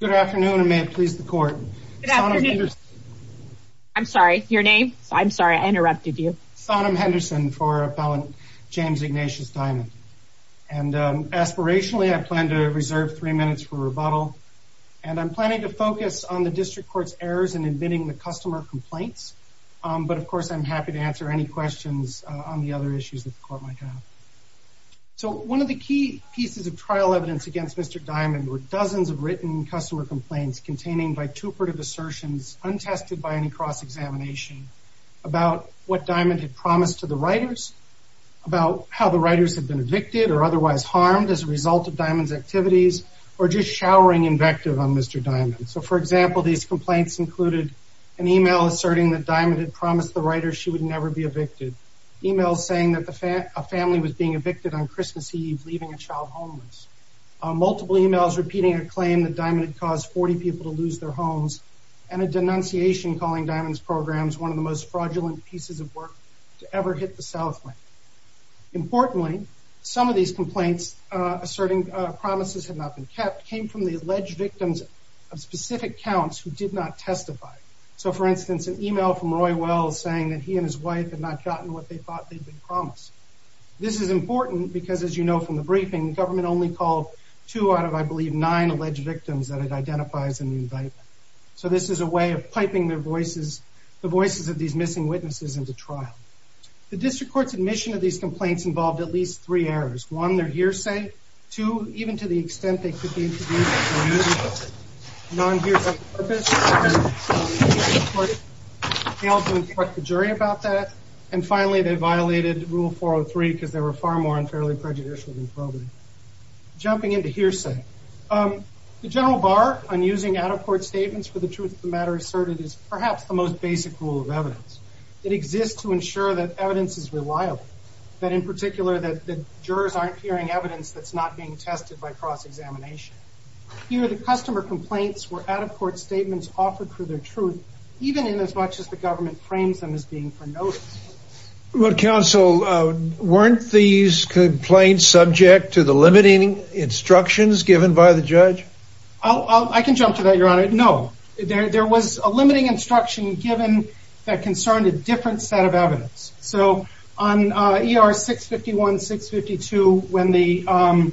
Good afternoon and may it please the court. I'm sorry your name? I'm sorry I interrupted you. Sonam Henderson for appellant James Ignatius Diamond and aspirationally I plan to reserve three minutes for rebuttal and I'm planning to focus on the district court's errors in admitting the customer complaints but of course I'm happy to answer any questions on the other issues that the court might have. So one of the key pieces of written customer complaints containing by two part of assertions untested by any cross-examination about what Diamond had promised to the writers about how the writers had been evicted or otherwise harmed as a result of Diamond's activities or just showering invective on Mr. Diamond. So for example these complaints included an email asserting that Diamond had promised the writer she would never be evicted. Emails saying that the family was being evicted on Christmas Eve leaving a child homeless. Multiple emails repeating a claim that Diamond had caused 40 people to lose their homes and a denunciation calling Diamond's programs one of the most fraudulent pieces of work to ever hit the south wing. Importantly some of these complaints asserting promises had not been kept came from the alleged victims of specific counts who did not testify. So for instance an email from Roy Wells saying that he and his wife had not gotten what they thought they'd been promised. This is important because as you know from the briefing the government only called two out of I believe nine alleged victims that it identifies in the indictment. So this is a way of piping their voices the voices of these missing witnesses into trial. The district court's admission of these complaints involved at least three errors. One their hearsay. Two even to the extent they could be used for non-hearsay purposes. Failed to instruct the jury about that. And finally they violated rule 403 because they were far more unfairly prejudicial than probably. Jumping into hearsay. The general bar on using out-of-court statements for the truth of the matter asserted is perhaps the most basic rule of evidence. It exists to ensure that evidence is reliable. That in particular that the jurors aren't hearing evidence that's not being tested by cross-examination. Here the customer complaints were out-of-court statements offered for their truth even in as much as the government frames them as being for notice. Well counsel weren't these complaints subject to the limiting instructions given by the judge? I can jump to that your honor. No there was a limiting instruction given that concerned a different set of evidence. So on ER 651, 652 when the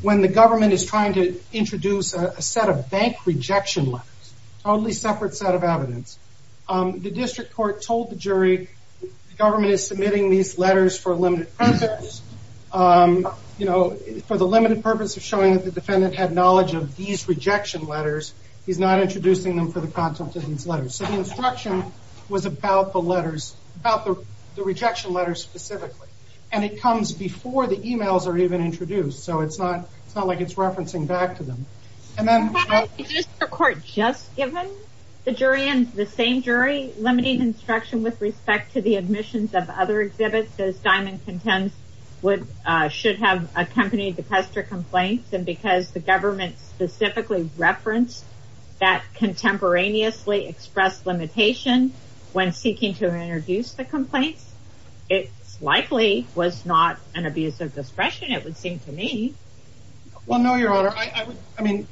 when the government is trying to introduce a set of bank rejection letters. Totally separate set of evidence. The district court told the jury the government is submitting these letters for a limited purpose. You know for the limited purpose of showing that the defendant had knowledge of these rejection letters. He's not introducing them for the content of these letters. So the instruction was about the letters about the rejection letters specifically. And it comes before the emails are even introduced. So it's not it's not like it's referencing back to them. And then the court just given the jury and the same jury limiting instruction with respect to the admissions of other exhibits. Those diamond contents would should have accompanied the customer complaints. And because the government specifically referenced that contemporaneously expressed limitation when seeking to introduce the complaints. It likely was not an abuse of discretion it would seem to me. Well no your honor. I mean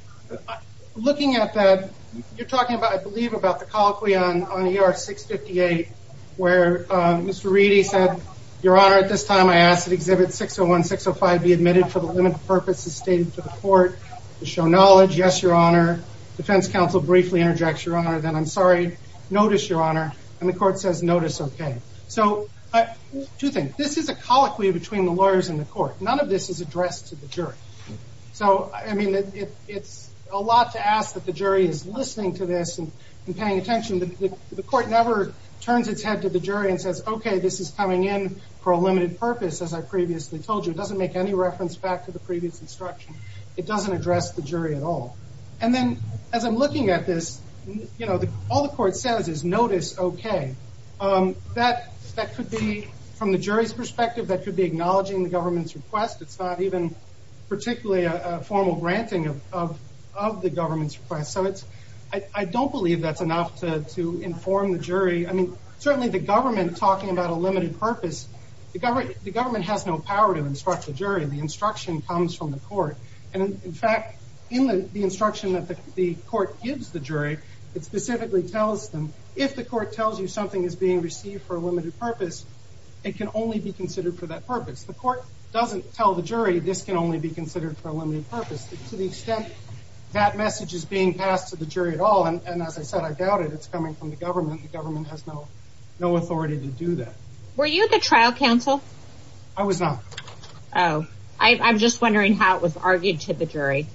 looking at that you're talking about I believe about the colloquy on ER 658 where Mr. Reedy said your honor at this time I asked that exhibit 601, 605 be admitted for the limited purpose as stated to the court to show knowledge. Yes your honor. Defense counsel briefly interjects your honor. Then I'm sorry notice your honor. And the court says notice okay. So two things. This is a colloquy between the lawyers and the court. None of this is addressed to the jury. So I mean it's a lot to ask that the jury is listening to this and paying attention. The court never turns its head to the jury and says okay this is coming in for a limited purpose as I previously told you. It doesn't make any reference back to the previous instruction. It doesn't address the jury at all. And then as I'm looking at this you know all the court says is notice okay. That that could be from the jury's perspective that could be acknowledging the government's request. It's not even particularly a formal granting of of the government's request. So it's I don't believe that's enough to to inform the jury. I mean certainly the government talking about a limited purpose. The government the government has no power to instruct the jury. The instruction comes from the court. And in fact in the instruction that the court gives the jury it specifically tells them if the court tells you something is being received for a limited purpose it can only be considered for that purpose. The court doesn't tell the jury this can only be considered for a limited purpose. To the extent that message is being passed to the jury at all and and as I said I doubt it. It's coming from the government. The government has no authority to do that. Were you at the trial counsel? I was not. Oh I'm just wondering how it was argued to the jury.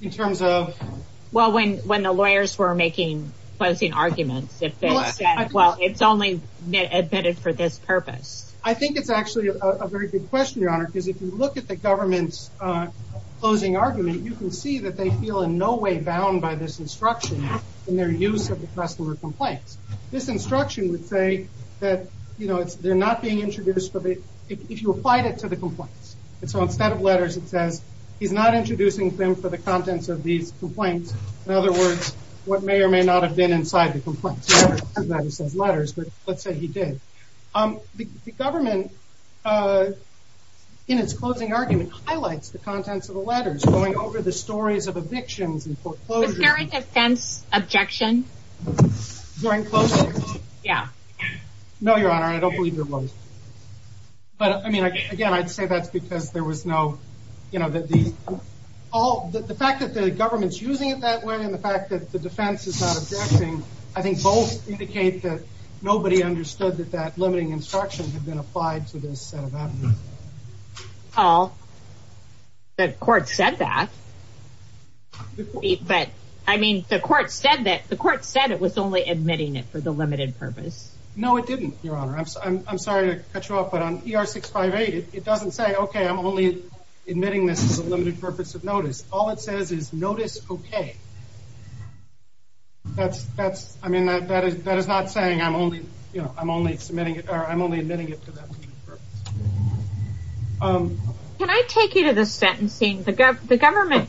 In terms of? Well when when the lawyers were making closing arguments. If they said well it's only admitted for this purpose. I think it's actually a very good question your honor. Because if you look at the government's closing argument you can see that they feel in no way bound by this instruction in their use of the customer complaints. This instruction would say that you know it's they're not being introduced but if you applied it to the complaints. And so instead of letters it says he's not introducing them for the contents of these complaints. In other words what may or may not have been inside the complaints. That he says letters but let's say he did. The government in its closing argument highlights the contents of the letters going over the stories of evictions and foreclosures. During defense objection? During closing? Yeah. No your honor I don't believe there was. But I mean again I'd say that's because there was no you know that these all the fact that the government's using it that way and the fact that the defense is not objecting. I think both indicate that nobody understood that that limiting instruction had been applied to this set of complaints. But I mean the court said that the court said it was only admitting it for the limited purpose. No it didn't your honor. I'm sorry to cut you off but on ER 658 it doesn't say okay I'm only admitting this is a limited purpose of notice. All it says is notice okay. That's that's I mean that that is that is not saying I'm only you know I'm only submitting it for that purpose. Can I take you to the sentencing? The government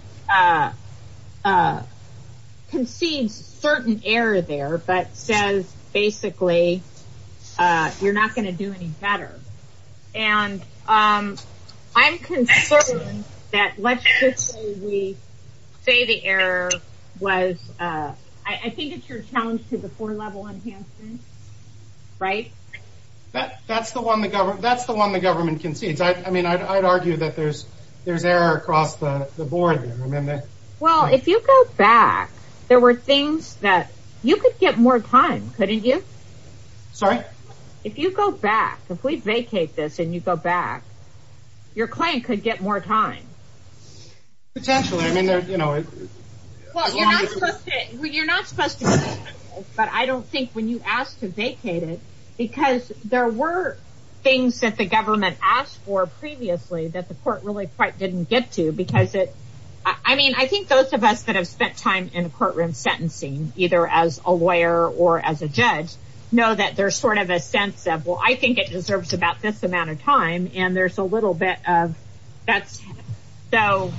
concedes certain error there but says basically you're not going to do any better. And I'm concerned that let's just say we say the error was I think it's your challenge to four-level enhancement right? That that's the one the government that's the one the government concedes. I mean I'd argue that there's there's error across the board there. Well if you go back there were things that you could get more time couldn't you? Sorry? If you go back if we vacate this and you go back your claim could get more time. Potentially I mean there you know. Well you're not supposed to but I don't think when you ask to vacate it because there were things that the government asked for previously that the court really quite didn't get to because it I mean I think those of us that have spent time in the courtroom sentencing either as a lawyer or as a judge know that there's sort of a sense of well I think it deserves about this amount of time and there's a little bit of that's so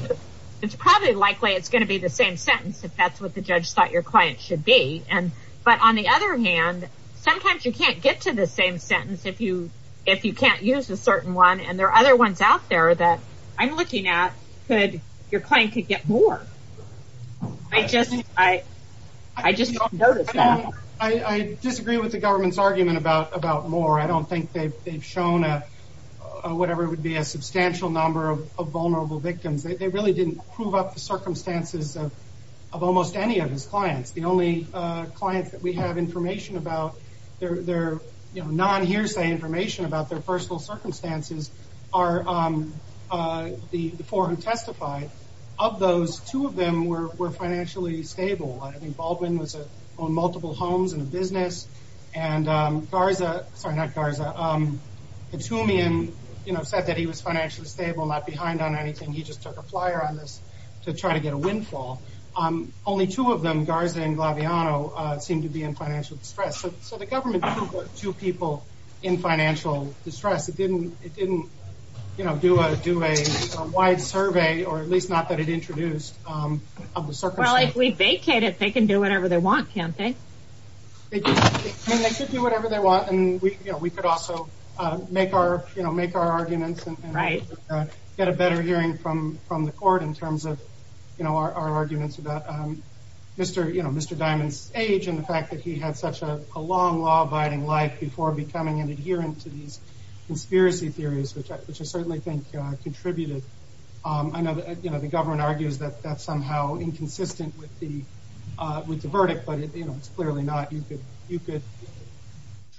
it's probably likely it's going to be the same sentence if that's what the judge thought your client should be. And but on the other hand sometimes you can't get to the same sentence if you if you can't use a certain one and there are other ones out there that I'm looking at could your claim could get more. I just I I just noticed that. I disagree with the government's argument about about more. I whatever it would be a substantial number of vulnerable victims. They really didn't prove up the circumstances of almost any of his clients. The only clients that we have information about they're they're you know non-hearsay information about their personal circumstances are the four who testified. Of those two of them were were financially stable. I think Baldwin was on said that he was financially stable not behind on anything he just took a flyer on this to try to get a windfall. Only two of them Garza and Glaviano seemed to be in financial distress. So the government didn't put two people in financial distress. It didn't it didn't you know do a do a wide survey or at least not that it introduced of the circumstance. Well if we vacate it they can do whatever they want can't they? They could do whatever they want and we you know could also make our you know make our arguments and right get a better hearing from from the court in terms of you know our arguments about um Mr. you know Mr. Diamond's age and the fact that he had such a long law-abiding life before becoming an adherent to these conspiracy theories which I certainly think contributed. I know you know the government argues that that's somehow inconsistent with the uh with the verdict but you know it's clearly not. You could you could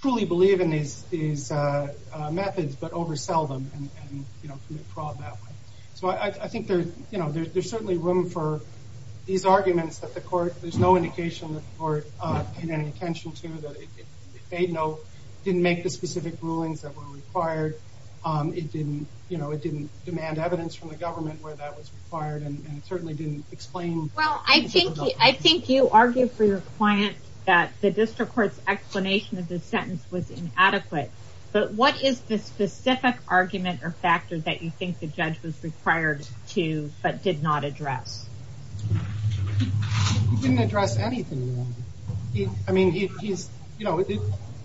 truly believe in these these uh methods but oversell them and and you know commit fraud that way. So I think there's you know there's certainly room for these arguments that the court there's no indication that the court uh paid any attention to that it made no didn't make the specific rulings that were required um it didn't you know it didn't demand evidence from the government where that was required and it certainly didn't explain. Well I think I think you argue for your client that the district court's explanation of the sentence was inadequate but what is the specific argument or factor that you think the judge was required to but did not address? He didn't address anything wrong. He I mean he's you know we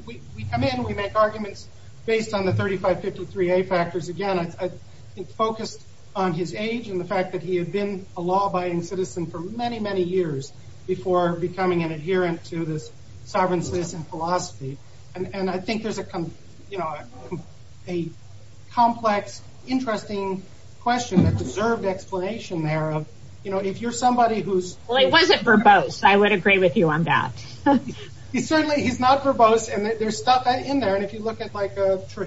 we come in we make arguments based on the 3553a factors again. I think focused on his age and the fact that he had been a law citizen for many many years before becoming an adherent to this sovereign citizen philosophy and and I think there's a you know a complex interesting question that deserved explanation there of you know if you're somebody who's well it wasn't verbose I would agree with you on that. He certainly he's not verbose and there's stuff in there and if you look at like uh case you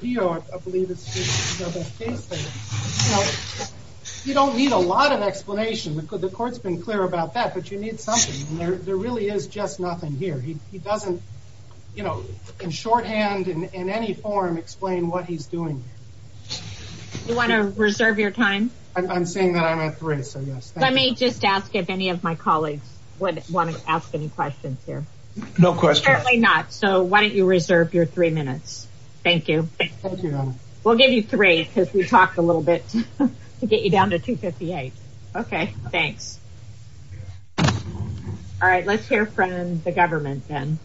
know you don't need a lot of explanation because the court's been clear about that but you need something and there there really is just nothing here. He doesn't you know in shorthand and in any form explain what he's doing. You want to reserve your time? I'm saying that I'm at three so yes. Let me just ask if any of my colleagues would want to ask any questions here. No question. So why don't you reserve your three minutes. Thank you. We'll give you three because we talked a little bit to get you down to 258. Okay thanks. All right let's hear from the government then.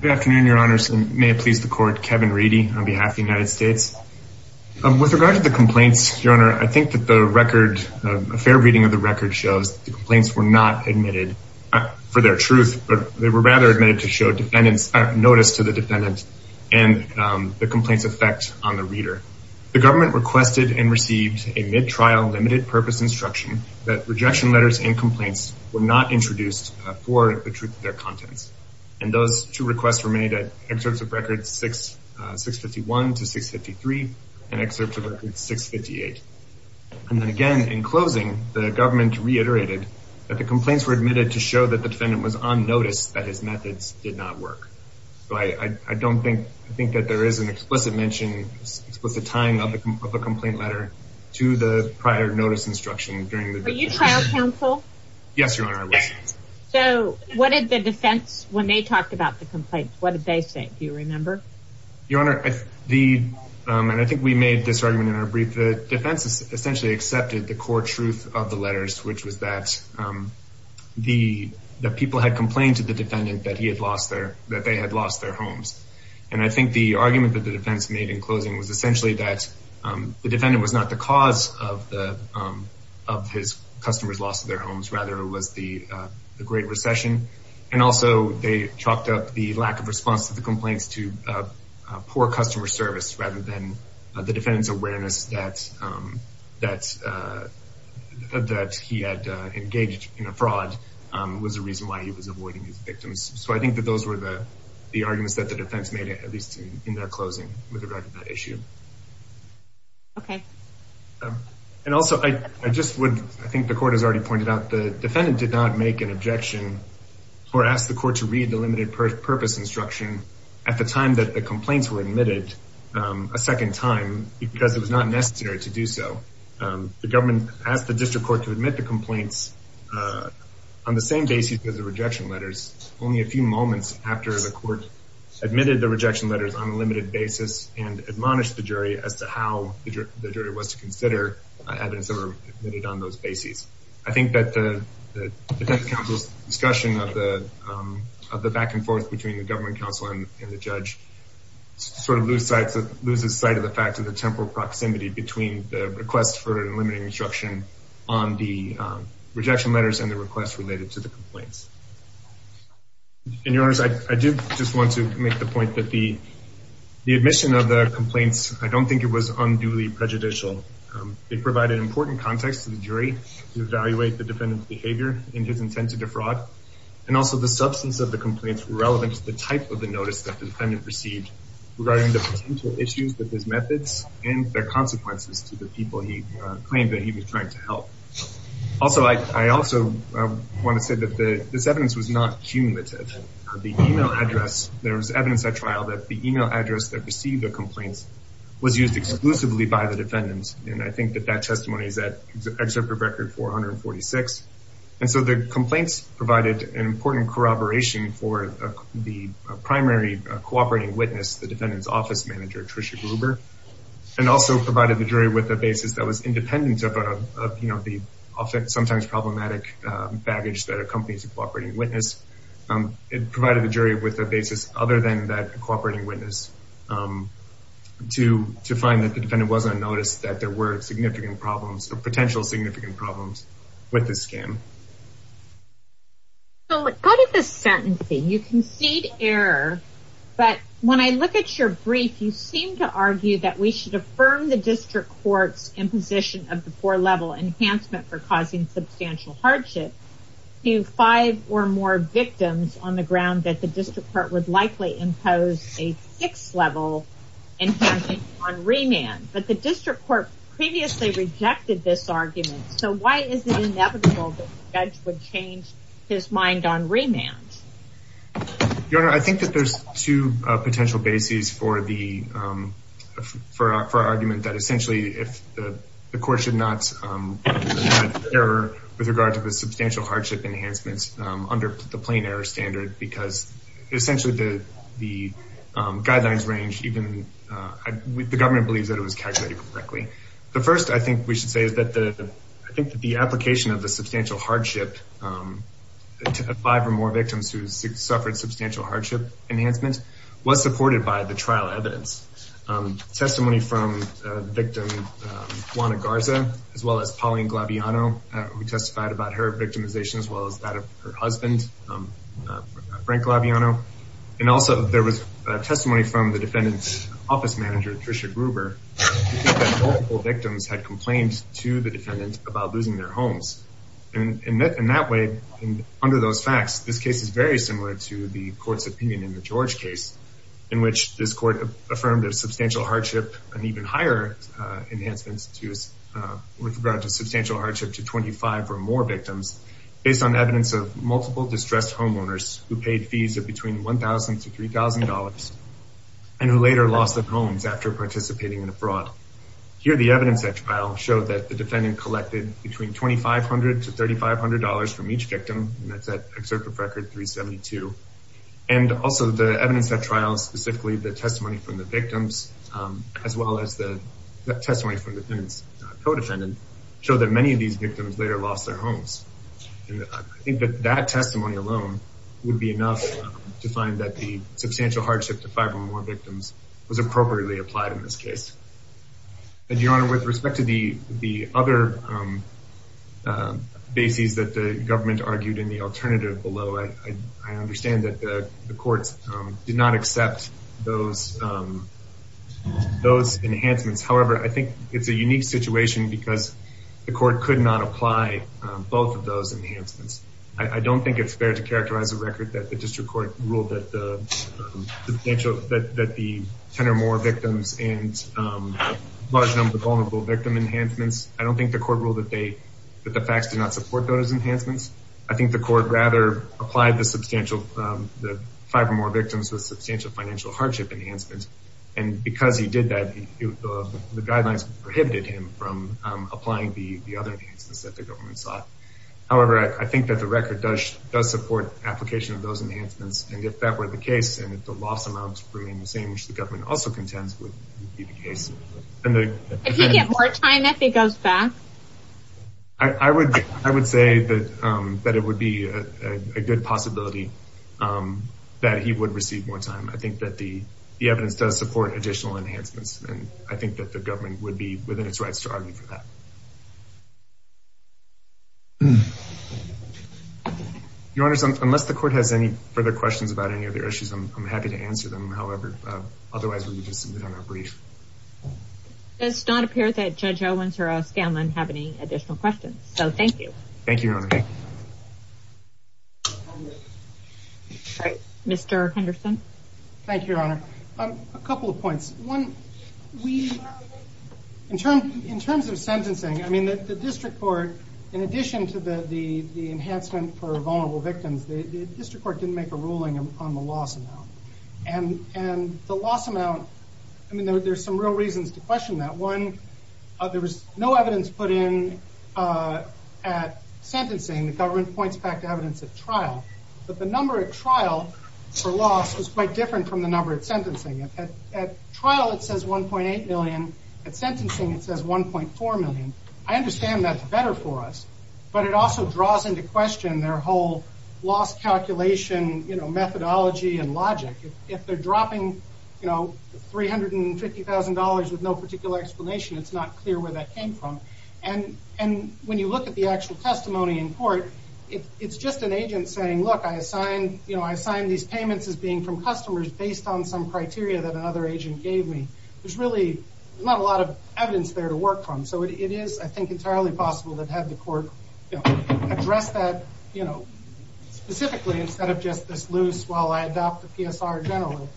Good afternoon your honors and may it please the court Kevin Reedy on behalf of the United States. Um with regard to the complaints your honor I think that the record a fair reading of the record shows the complaints were not admitted for their truth but they were rather admitted to show defendants notice to the defendant and the complaint's effect on the reader. The government requested and received a mid-trial limited purpose instruction that rejection letters and complaints were not introduced for the truth of their contents and those two requests were made at excerpts of records 651 to 653 and excerpts of records 658. And then again in closing the government reiterated that the complaints were admitted to show that the defendant was on notice that his methods did not work. So I don't think I think that there is an explicit mention explicit time of the complaint letter to the prior notice instruction during the trial counsel. Yes your honor. So what did the defense when they talked about the complaints what did they say do you remember? Your honor the um and I think we made this argument in our brief the defense essentially accepted the core truth of the letters which was that um the the people had complained to the defendant that he had lost their that they had lost their homes and I think the argument that the defense made in closing was essentially that um the defendant was not the cause of the um of his customers loss of their homes rather it was the uh the great recession and also they chalked up the lack of response to the complaints to poor customer service rather than the defendant's awareness that um that uh that he had uh engaged in a fraud um was the reason why he was avoiding his victims. So I think that those were the the arguments that the defense made at least in their closing with regard to that issue. Okay. And also I just would I think the court has already pointed out the defendant did not make an at the time that the complaints were admitted um a second time because it was not necessary to do so um the government asked the district court to admit the complaints uh on the same basis as the rejection letters only a few moments after the court admitted the rejection letters on a limited basis and admonished the jury as to how the jury was to consider evidence that were admitted on those bases. I think that the defense counsel's discussion of the um of the back and forth between the government counsel and the judge sort of lose sight to lose the sight of the fact of the temporal proximity between the request for an eliminating instruction on the um rejection letters and the request related to the complaints. In your honors, I do just want to make the point that the the admission of the complaints I don't think it was unduly prejudicial. They provide an important context to the jury to evaluate the defendant's behavior and his intent to defraud and also the substance of the complaints were relevant to the type of the notice that the defendant received regarding the potential issues with his methods and their consequences to the people he claimed that he was trying to help. Also I also want to say that the this evidence was not cumulative. The email address there was evidence at trial that the email address that received the complaints was used exclusively by the defendants and I think that testimony is at excerpt of record 446. And so the complaints provided an important corroboration for the primary cooperating witness, the defendant's office manager, Tricia Gruber, and also provided the jury with a basis that was independent of you know the often sometimes problematic baggage that accompanies a cooperating witness. It provided the jury with a basis other than that cooperating witness to to find that the defendant wasn't noticed that there were significant problems or potential significant problems with the scam. So go to the sentencing. You concede error but when I look at your brief you seem to argue that we should affirm the district court's imposition of the four level enhancement for causing substantial hardship to five or more victims on the ground that the district court would likely impose a six level enhancement on remand. But the district court previously rejected this argument so why is it inevitable that the judge would change his mind on remand? Your honor I think that there's two potential bases for the for our argument that essentially if the court should not err with regard to the substantial hardship enhancements under the plain error standard because essentially the the guidelines range even with the government believes that it was calculated correctly. The first I think we should say is that the I think that the application of the substantial hardship to five or more victims who suffered substantial hardship enhancement was supported by the trial evidence. Testimony from the victim Juana Garza as well as Pauline who testified about her victimization as well as that of her husband Frank Glaviano and also there was testimony from the defendant's office manager Tricia Gruber that multiple victims had complained to the defendant about losing their homes and in that way and under those facts this case is very similar to the court's opinion in the George case in which this court affirmed a substantial hardship and even higher enhancements to with regard to substantial hardship to 25 or more victims based on evidence of multiple distressed homeowners who paid fees of between 1,000 to 3,000 dollars and who later lost their homes after participating in a fraud. Here the evidence at trial showed that the defendant collected between 2,500 to 3,500 dollars from each victim and that's at excerpt of record 372 and also the evidence at trial specifically the testimony from the victims as well as the testimony from the defendant's co-defendant show that many of these victims later lost their homes and I think that that testimony alone would be enough to find that the substantial hardship to five or more victims was appropriately applied in this case and your honor with respect to the the other bases that the government argued in the alternative below I understand that the courts did not accept those enhancements however I think it's a unique situation because the court could not apply both of those enhancements. I don't think it's fair to characterize a record that the district court ruled that the potential that the 10 or more victims and large number of vulnerable victim enhancements I don't think the court ruled that the facts did not support those enhancements I think the court rather applied the substantial the five or more victims with substantial financial hardship enhancements and because he did that the guidelines prohibited him from applying the the other enhancements that the government sought however I think that the record does does support application of those enhancements and if that were the case and if the loss amounts free and the same which the government also contends would be the case and the if you get more time if he goes back I I would I would say that um that it would be a good possibility um that he would receive more time I think that the the evidence does support additional enhancements and I think that the government would be within its rights to argue for that your honors unless the court has any further questions about any issues I'm happy to answer them however otherwise we'll just submit on our brief does not appear that judge Owens or a Scanlon have any additional questions so thank you thank you okay all right Mr. Henderson thank you your honor a couple of points one we in terms in terms of sentencing I mean that the district court in addition to the the the enhancement for vulnerable victims the district court didn't make a ruling on the loss amount and and the loss amount I mean there's some real reasons to question that one uh there was no evidence put in uh at sentencing the government points back to evidence at trial but the number at trial for loss was quite different from the number at sentencing at trial it says 1.8 million at sentencing it says 1.4 million I understand that's better for us but it also draws into question their whole loss calculation you know methodology and logic if they're dropping you know three hundred and fifty thousand dollars with no particular explanation it's not clear where that came from and and when you look at the actual testimony in court if it's just an agent saying look I assigned you know I assigned these payments as being from customers based on some criteria that it is I think entirely possible that had the court you know address that you know specifically instead of just this loose while I adopt the PSR generally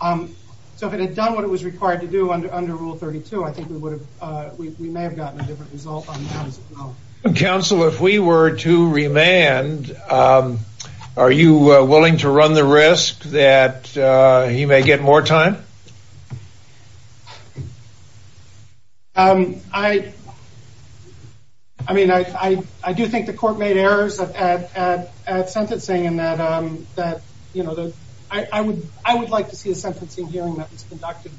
um so if it had done what it was required to do under under rule 32 I think we would have uh we may have gotten a different result on council if we were to remand um are you willing to run the risk that uh you may get more time um I I mean I I do think the court made errors at at at sentencing and that um that you know that I I would I would like to see a sentencing hearing that was conducted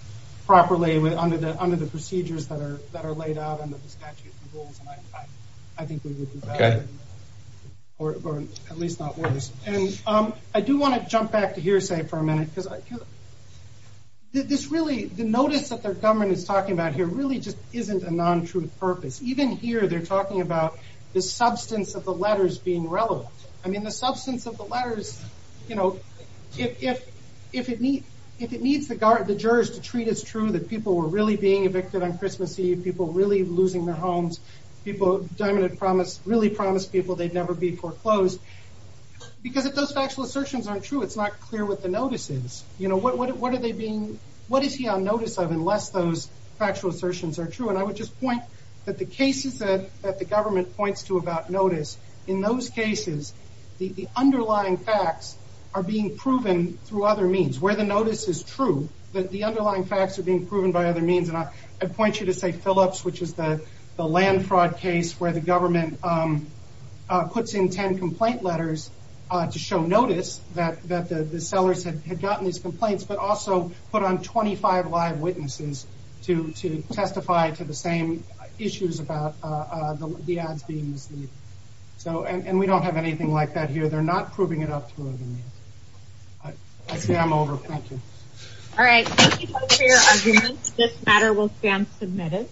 properly with under the under the procedures that are that are laid out under the statute I think we would be better or at least not worse and um I do want to jump back to hearsay for a minute this really the notice that their government is talking about here really just isn't a non-truth purpose even here they're talking about the substance of the letters being relevant I mean the substance of the letters you know if if it needs if it needs the guard the jurors to treat as true that people were really being evicted on Christmas Eve people really losing their homes people diamond had promised really promised people they'd never be foreclosed because if those factual assertions aren't true it's not clear what the notice is you know what what are they being what is he on notice of unless those factual assertions are true and I would just point that the cases that that the government points to about notice in those cases the the underlying facts are being proven through other means where the notice is true that the underlying facts are being proven by other means and I I'd point you to say Phillips which is the the land fraud case where the government um uh puts in 10 complaint letters uh to show notice that that the the sellers had gotten these complaints but also put on 25 live witnesses to to testify to the same issues about uh the ads being mislead so and we don't have anything like that here they're not proving it up through other means I see I'm over thank you all right thank you for your arguments this matter will stand submitted